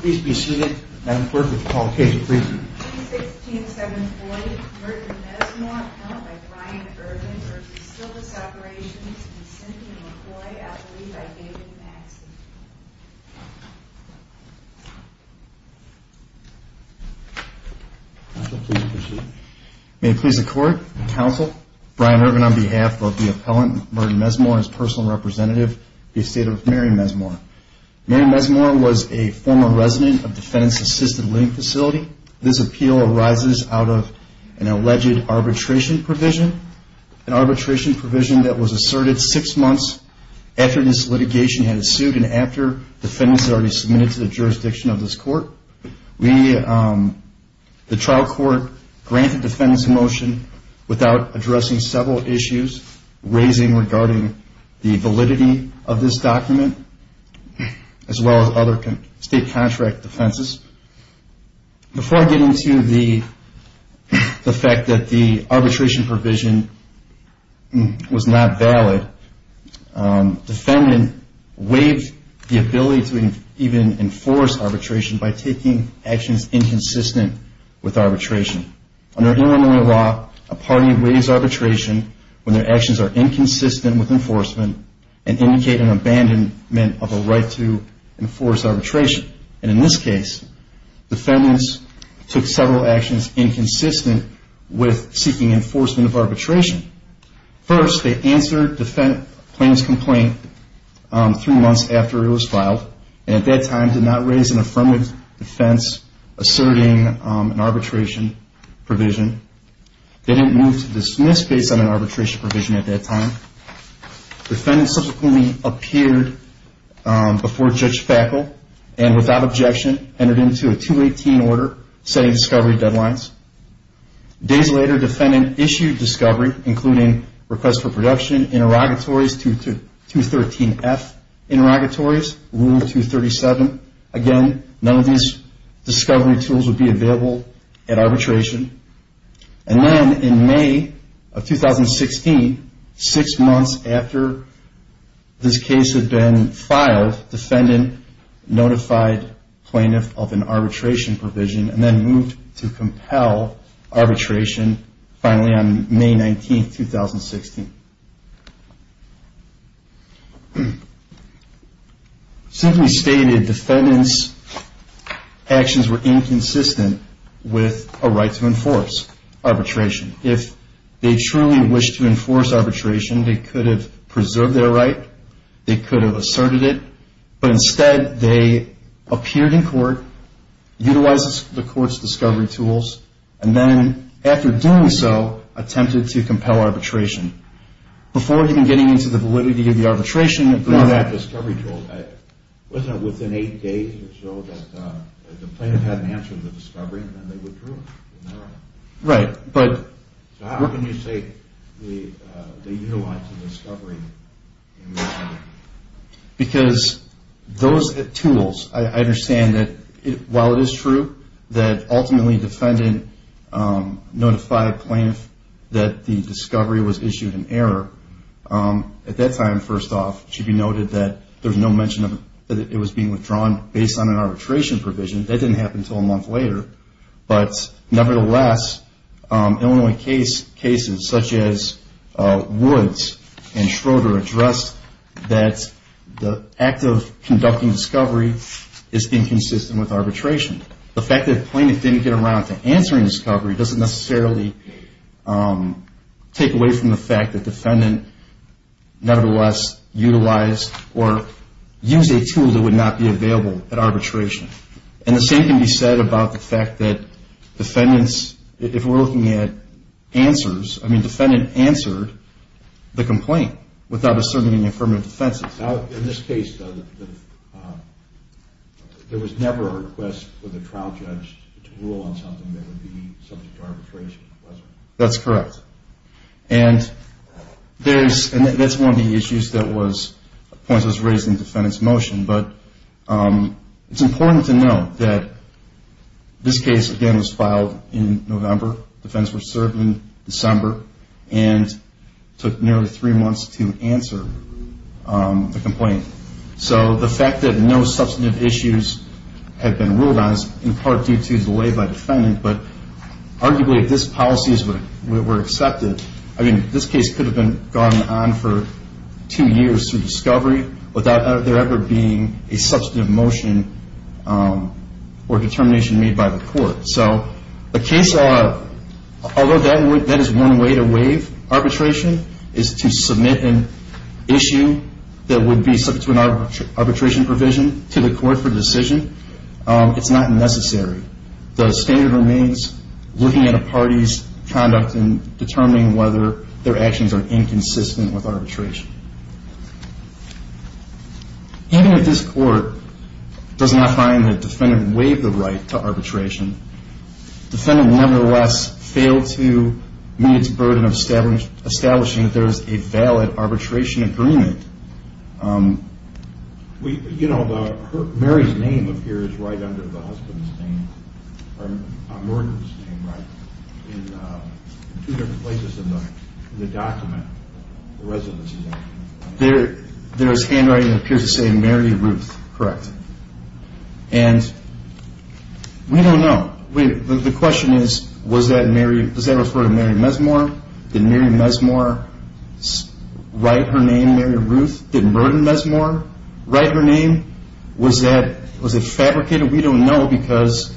Please be seated, Madam Clerk, if you'd call the case, please. May it please the Court, Counsel, Brian Irvin on behalf of the appellant, Merton Mesmore, and his personal representative, the estate of Mary Mesmore. Mary Mesmore was a former resident of Defendant's Assisted Living Facility. This appeal arises out of an alleged arbitration provision. An arbitration provision that was asserted six months after this litigation had ensued and after defendants had already submitted to the jurisdiction of this court. The trial court granted defendants a motion without addressing several issues, raising regarding the validity of this document, as well as other state contract defenses. Before I get into the fact that the arbitration provision was not valid, defendant waived the ability to even enforce arbitration by taking actions inconsistent with arbitration. Under Illinois law, a party waives arbitration when their actions are inconsistent with enforcement and indicate an abandonment of a right to enforce arbitration. And in this case, defendants took several actions inconsistent with seeking enforcement of arbitration. First, they answered defendant's complaint three months after it was filed and at that time did not raise an affirmative defense asserting an arbitration provision. They didn't move to dismiss based on an arbitration provision at that time. Defendants subsequently appeared before Judge Fackel and, without objection, entered into a 218 order setting discovery deadlines. Days later, defendant issued discovery, including requests for production, interrogatories, 213F interrogatories, Rule 237. Again, none of these discovery tools would be available at arbitration. And then in May of 2016, six months after this case had been filed, defendant notified plaintiff of an arbitration provision and then moved to compel arbitration finally on May 19, 2016. Simply stated, defendant's actions were inconsistent with a right to enforce arbitration. If they truly wished to enforce arbitration, they could have preserved their right, they could have asserted it, but instead they appeared in court, utilized the court's discovery tools, and then, after doing so, attempted to compel arbitration. Before even getting into the validity of the arbitration... But what about discovery tools? Wasn't it within eight days or so that the plaintiff had an answer to the discovery and then they withdrew? Right, but... So how can you say they utilized the discovery? Because those tools, I understand that while it is true that ultimately defendant notified plaintiff that the discovery was issued in error, at that time, first off, it should be noted that there's no mention that it was being withdrawn based on an arbitration provision. That didn't happen until a month later. But nevertheless, Illinois cases such as Woods and Schroeder addressed that the act of conducting discovery is inconsistent with arbitration. The fact that plaintiff didn't get around to answering discovery doesn't necessarily take away from the fact that defendant nevertheless utilized or used a tool that would not be available at arbitration. And the same can be said about the fact that defendants, if we're looking at answers, I mean, defendant answered the complaint without asserting any affirmative defenses. In this case, though, there was never a request for the trial judge to rule on something that would be subject to arbitration, was there? That's correct. And that's one of the issues that was raised in defendant's motion. But it's important to note that this case, again, was filed in November. Defendants were served in December and took nearly three months to answer the complaint. So the fact that no substantive issues had been ruled on is in part due to delay by defendant. But arguably, if this policy were accepted, I mean, this case could have gone on for two years through discovery without there ever being a substantive motion or determination made by the court. So although that is one way to waive arbitration, is to submit an issue that would be subject to an arbitration provision to the court for decision, it's not necessary. The standard remains looking at a party's conduct and determining whether their actions are inconsistent with arbitration. Even if this court does not find that defendant waived the right to arbitration, defendant nevertheless failed to meet its burden of establishing that there is a valid arbitration agreement. You know, Mary's name appears right under the husband's name, or Norton's name, right? In two different places in the document, the residency document. There is handwriting that appears to say Mary Ruth, correct. And we don't know. The question is, does that refer to Mary Mesmore? Did Mary Mesmore write her name Mary Ruth? Did Merton Mesmore write her name? Was it fabricated? We don't know because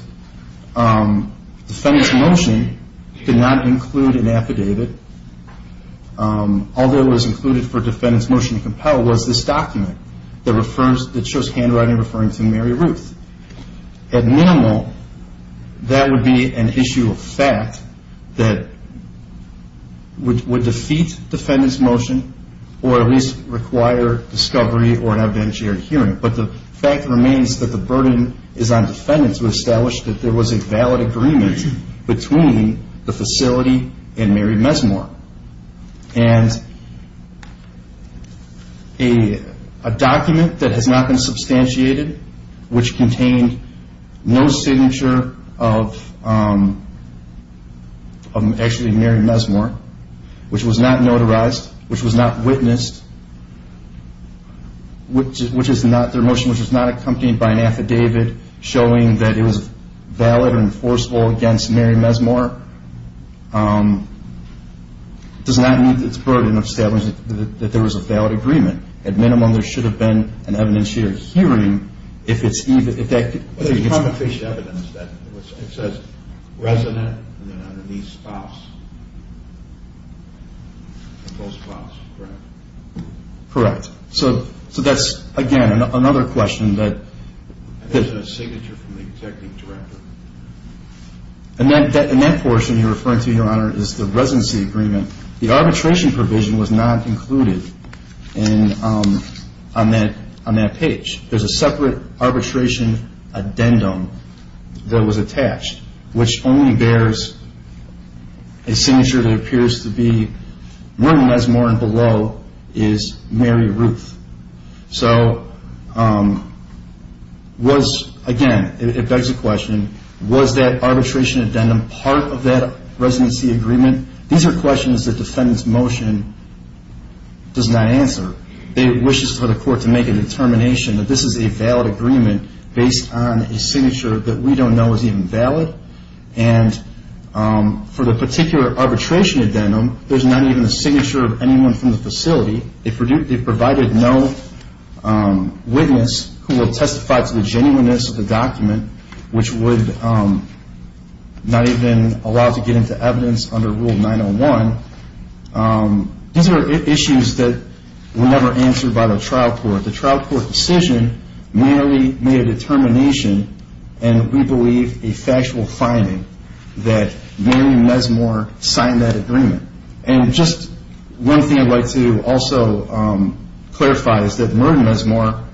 defendant's motion did not include an affidavit. All that was included for defendant's motion to compel was this document that shows handwriting referring to Mary Ruth. At minimal, that would be an issue of fact that would defeat defendant's motion or at least require discovery or an evidentiary hearing. But the fact remains that the burden is on defendant to establish that there was a valid agreement between the facility and Mary Mesmore. And a document that has not been substantiated, which contained no signature of actually Mary Mesmore, which was not notarized, which was not witnessed, which was not accompanied by an affidavit showing that it was valid and enforceable against Mary Mesmore, does not mean that it's a burden of establishing that there was a valid agreement. At minimum, there should have been an evidentiary hearing if it's even... There's promeptory evidence that it says resident and then underneath spouse. Both spouse, correct. Correct. So that's, again, another question that... There's a signature from the executive director. And that portion you're referring to, Your Honor, is the residency agreement. The arbitration provision was not included on that page. There's a separate arbitration addendum that was attached, which only bears a signature that appears to be Mary Mesmore and below is Mary Ruth. So again, it begs the question, was that arbitration addendum part of that residency agreement? These are questions that defendant's motion does not answer. It wishes for the court to make a determination that this is a valid agreement based on a signature that we don't know is even valid. And for the particular arbitration addendum, there's not even a signature of anyone from the facility. They've provided no witness who will testify to the genuineness of the document, which would not even allow to get into evidence under Rule 901. These are issues that were never answered by the trial court. The trial court decision merely made a determination and, we believe, a factual finding that Mary Mesmore signed that agreement. And just one thing I'd like to also clarify is that Merton Mesmore,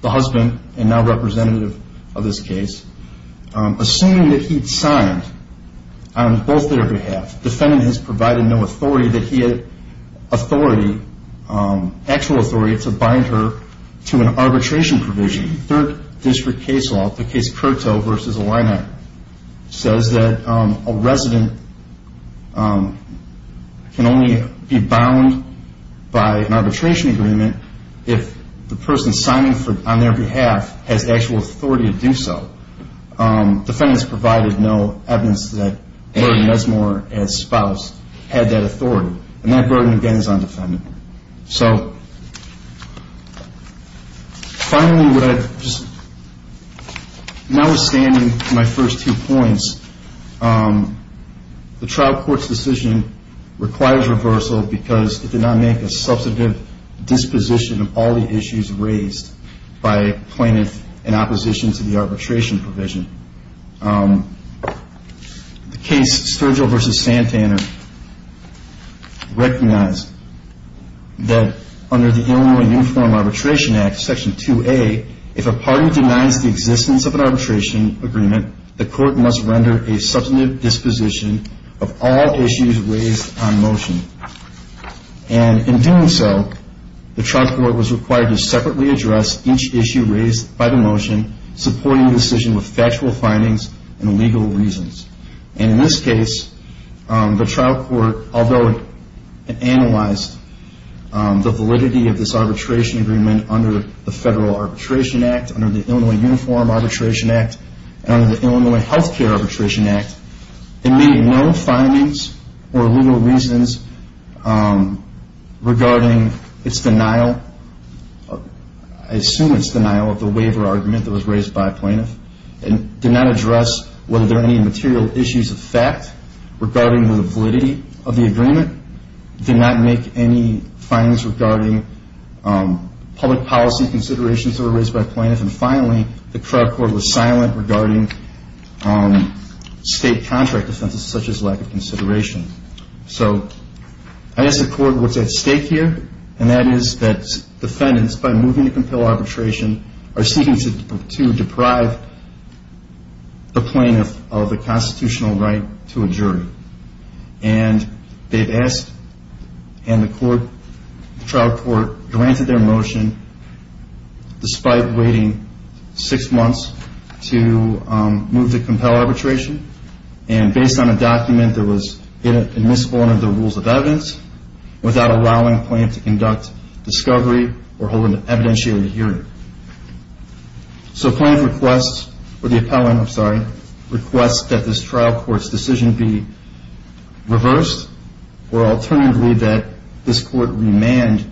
the husband and now representative of this case, assuming that he'd signed on both their behalf, defendant has provided no authority that he had authority, actual authority, to bind her to an arbitration provision. Third District case law, the case Curto v. Alina, says that a resident can only be bound by an arbitration agreement if the person signing on their behalf has actual authority to do so. Defendants provided no evidence that Merton Mesmore, as spouse, had that authority. And that burden, again, is on the defendant. So finally, now withstanding my first two points, the trial court's decision requires reversal because it did not make a substantive disposition of all the issues raised by plaintiff in opposition to the arbitration provision. The case Sturgill v. Santaner recognized that under the Illinois Uniform Arbitration Act, Section 2A, if a party denies the existence of an arbitration agreement, the court must render a substantive disposition of all issues raised on motion. And in doing so, the trial court was required to separately address each issue raised by the motion, supporting the decision with factual findings and legal reasons. And in this case, the trial court, although it analyzed the validity of this arbitration agreement under the Federal Arbitration Act, under the Illinois Uniform Arbitration Act, and under the Illinois Healthcare Arbitration Act, it made no findings or legal reasons regarding its denial, I assume its denial of the waiver argument that was raised by a plaintiff, and did not address whether there are any material issues of fact regarding the validity of the agreement, did not make any findings regarding public policy considerations that were raised by a plaintiff, and finally, the trial court was silent regarding state contract offenses such as lack of consideration. So I guess the court was at stake here, and that is that defendants, by moving to compel arbitration, are seeking to deprive the plaintiff of the constitutional right to a jury. And they've asked, and the trial court granted their motion, despite waiting six months to move to compel arbitration, and based on a document that was admissible under the rules of evidence, without allowing the plaintiff to conduct discovery or hold an evidentiary hearing. So the plaintiff requests, or the appellant, I'm sorry, requests that this trial court's decision be reversed, or alternatively that this court remand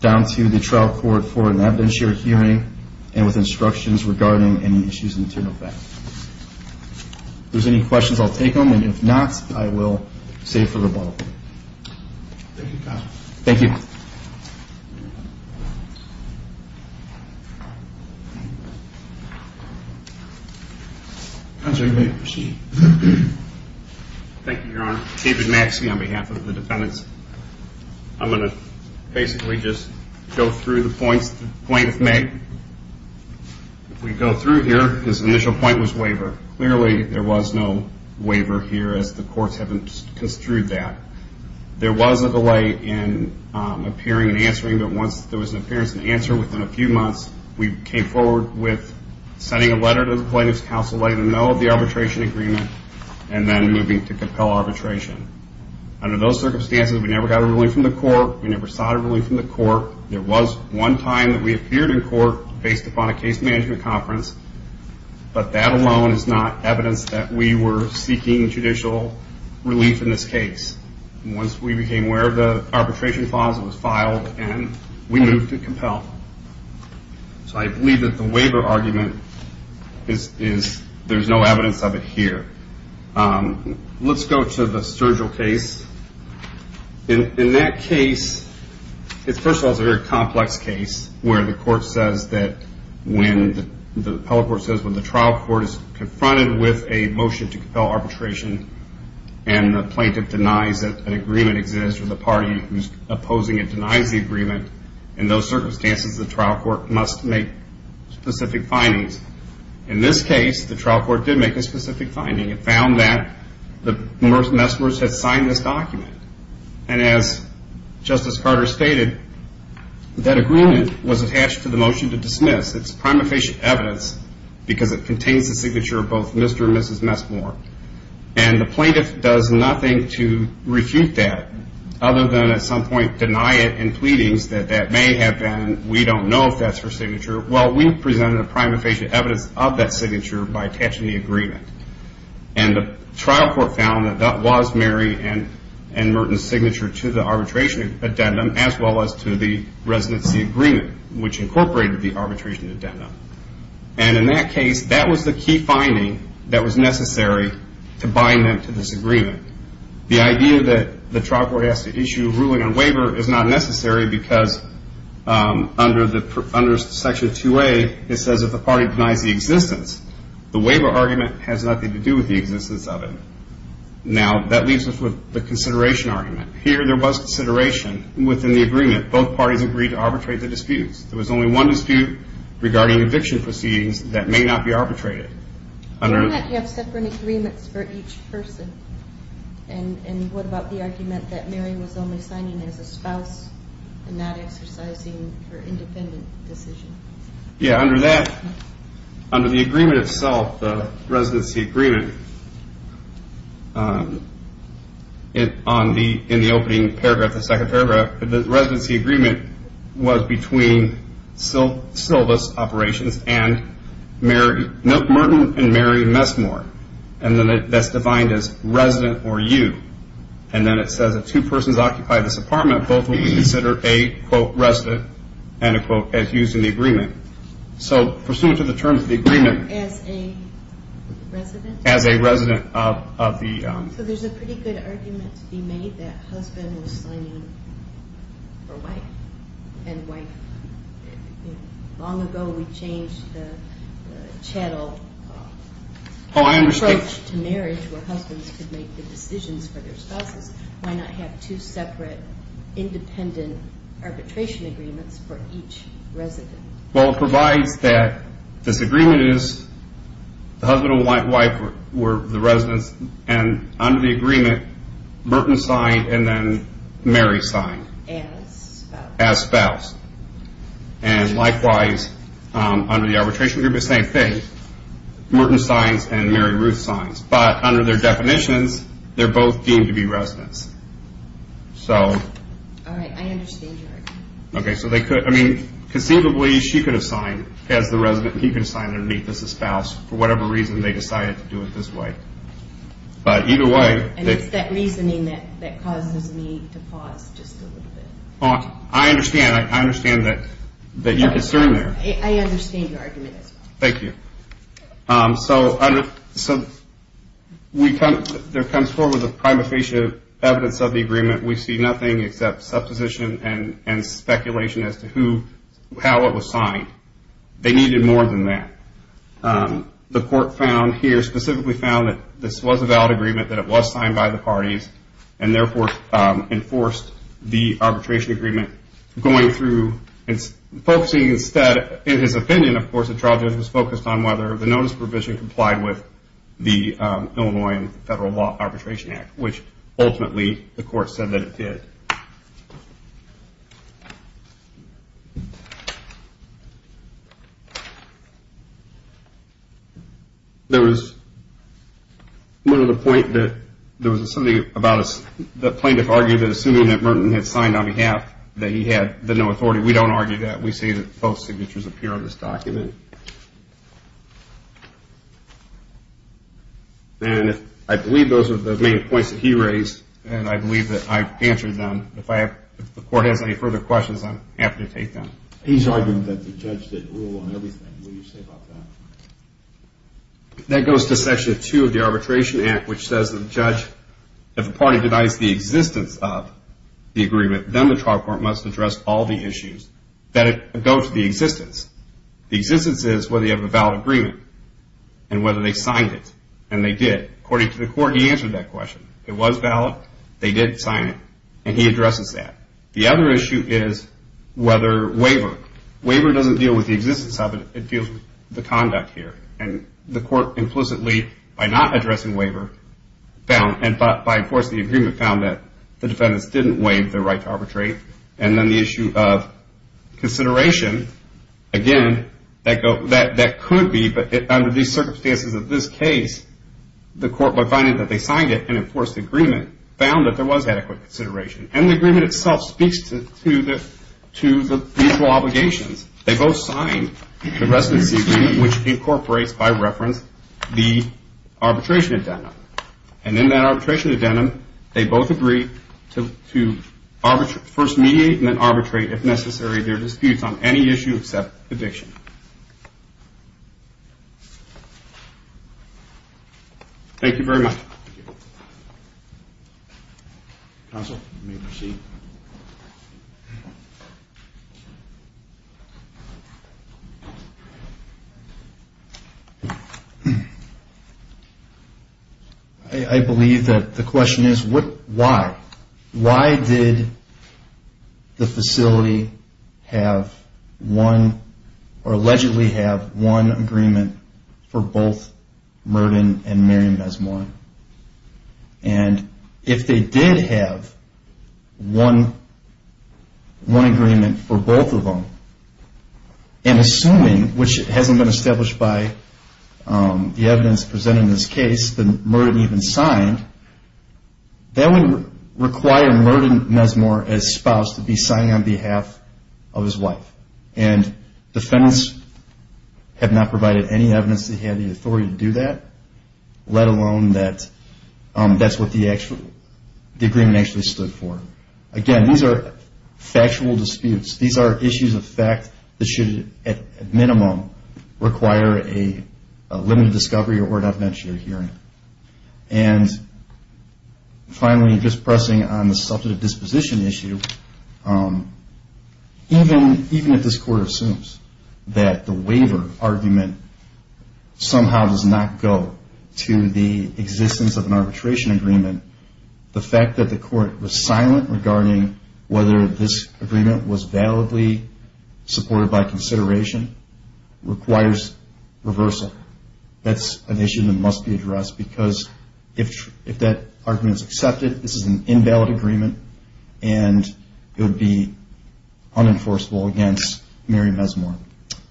down to the trial court for an evidentiary hearing, and with instructions regarding any issues of internal fact. If there's any questions, I'll take them, and if not, I will save for the ball. Thank you, counsel. Thank you. Counsel, you may proceed. Thank you, Your Honor. David Maxey on behalf of the defendants. I'm going to basically just go through the points the plaintiff made. If we go through here, his initial point was waiver. Clearly, there was no waiver here, as the courts have construed that. There was a delay in appearing and answering, but once there was an appearance and answer within a few months, we came forward with sending a letter to the plaintiff's counsel, letting them know of the arbitration agreement, and then moving to compel arbitration. Under those circumstances, we never got a ruling from the court. We never saw a ruling from the court. There was one time that we appeared in court based upon a case management conference, but that alone is not evidence that we were seeking judicial relief in this case. Once we became aware of the arbitration clause, it was filed, and we moved to compel. So I believe that the waiver argument is there's no evidence of it here. Let's go to the Sturgill case. In that case, first of all, it's a very complex case, where the court says that when the trial court is confronted with a motion to compel arbitration and the plaintiff denies that an agreement exists or the party who's opposing it denies the agreement, in those circumstances, the trial court must make specific findings. In this case, the trial court did make a specific finding. And as Justice Carter stated, that agreement was attached to the motion to dismiss. It's prima facie evidence because it contains the signature of both Mr. and Mrs. Messmore. And the plaintiff does nothing to refute that, other than at some point deny it in pleadings that that may have been, we don't know if that's her signature. Well, we presented a prima facie evidence of that signature by attaching the agreement. And the trial court found that that was Mary and Merton's signature to the arbitration addendum, as well as to the residency agreement, which incorporated the arbitration addendum. And in that case, that was the key finding that was necessary to bind them to this agreement. The idea that the trial court has to issue a ruling on waiver is not necessary because under Section 2A, it says if the party denies the existence, the waiver argument has nothing to do with the existence of it. Now, that leaves us with the consideration argument. Here, there was consideration within the agreement. Both parties agreed to arbitrate the disputes. There was only one dispute regarding eviction proceedings that may not be arbitrated. Why not have separate agreements for each person? And what about the argument that Mary was only signing as a spouse and not exercising her independent decision? Yeah, under that, under the agreement itself, the residency agreement, in the opening paragraph, the second paragraph, the residency agreement was between Sylva's operations and Merton and Mary Messmore. And then that's defined as resident or you. And then it says if two persons occupy this apartment, both will be considered a, quote, resident, end of quote, as used in the agreement. So pursuant to the terms of the agreement. As a resident? As a resident of the... So there's a pretty good argument to be made that husband was signing for wife. And wife, long ago we changed the chattel... Oh, I understand. Approach to marriage where husbands could make the decisions for their spouses. Why not have two separate independent arbitration agreements for each resident? Well, it provides that this agreement is the husband and wife were the residents... And under the agreement, Merton signed and then Mary signed. As spouse. As spouse. And likewise, under the arbitration agreement, same thing. Merton signs and Mary Ruth signs. But under their definitions, they're both deemed to be residents. So... All right, I understand your argument. Okay, so they could... I mean, conceivably she could have signed as the resident and he could have signed underneath as the spouse. For whatever reason, they decided to do it this way. But either way... And it's that reasoning that causes me to pause just a little bit. I understand. I understand that you're concerned there. I understand your argument as well. Thank you. So there comes forward the prima facie evidence of the agreement. We see nothing except supposition and speculation as to how it was signed. They needed more than that. The court found here, specifically found that this was a valid agreement, that it was signed by the parties, and therefore enforced the arbitration agreement. Going through and focusing instead, in his opinion, of course, the trial judge was focused on whether the notice provision complied with the Illinois Federal Law Arbitration Act, which ultimately the court said that it did. There was one other point that there was something about the plaintiff's argument assuming that Merton had signed on behalf that he had the no authority. We don't argue that. We say that both signatures appear on this document. And I believe those are the main points that he raised, and I believe that I've answered them. If the court has any further questions, I'm happy to take them. He's arguing that the judge did rule on everything. What do you say about that? That goes to Section 2 of the Arbitration Act, which says that the judge, if a party denies the existence of the agreement, then the trial court must address all the issues that go to the existence. The existence is whether you have a valid agreement and whether they signed it, and they did. According to the court, he answered that question. It was valid. They did sign it, and he addresses that. The other issue is whether waiver. Waiver doesn't deal with the existence of it. It deals with the conduct here. And the court implicitly, by not addressing waiver, and by enforcing the agreement, found that the defendants didn't waive their right to arbitrate. And then the issue of consideration, again, that could be. But under the circumstances of this case, the court, by finding that they signed it and enforced the agreement, found that there was adequate consideration. And the agreement itself speaks to the mutual obligations. They both signed the residency agreement, which incorporates, by reference, the arbitration addendum. And in that arbitration addendum, they both agreed to first mediate and then arbitrate, if necessary, their disputes on any issue except addiction. Thank you very much. Thank you. Counsel, you may proceed. I believe that the question is why? Why did the facility have one, or allegedly have one, agreement for both Merton and Miriam Mesmoir? And if they did have one agreement for both of them, and assuming, which hasn't been established by the evidence presented in this case, that Merton even signed, that would require Merton Mesmoir, as spouse, to be signing on behalf of his wife. And defendants have not provided any evidence that he had the authority to do that, let alone that that's what the agreement actually stood for. Again, these are factual disputes. These are issues of fact that should, at minimum, require a limited discovery or an evidentiary hearing. And finally, just pressing on the substantive disposition issue, even if this Court assumes that the waiver argument somehow does not go to the existence of an arbitration agreement, the fact that the Court was silent regarding whether this agreement was validly supported by consideration requires reversal. That's an issue that must be addressed because if that argument is accepted, this is an invalid agreement and it would be unenforceable against Miriam Mesmoir.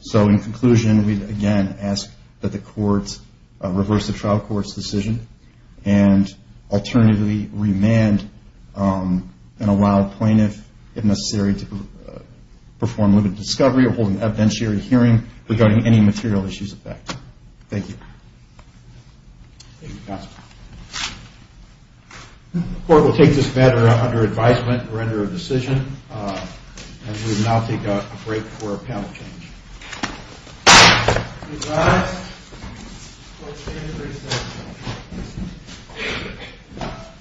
So in conclusion, we again ask that the courts reverse the trial court's decision and alternatively remand and allow plaintiff, if necessary, to perform limited discovery or hold an evidentiary hearing regarding any material issues of fact. Thank you. Thank you, Counselor. The Court will take this matter under advisement and render a decision. And we will now take a break for a panel change. All rise. The Court stands recessed.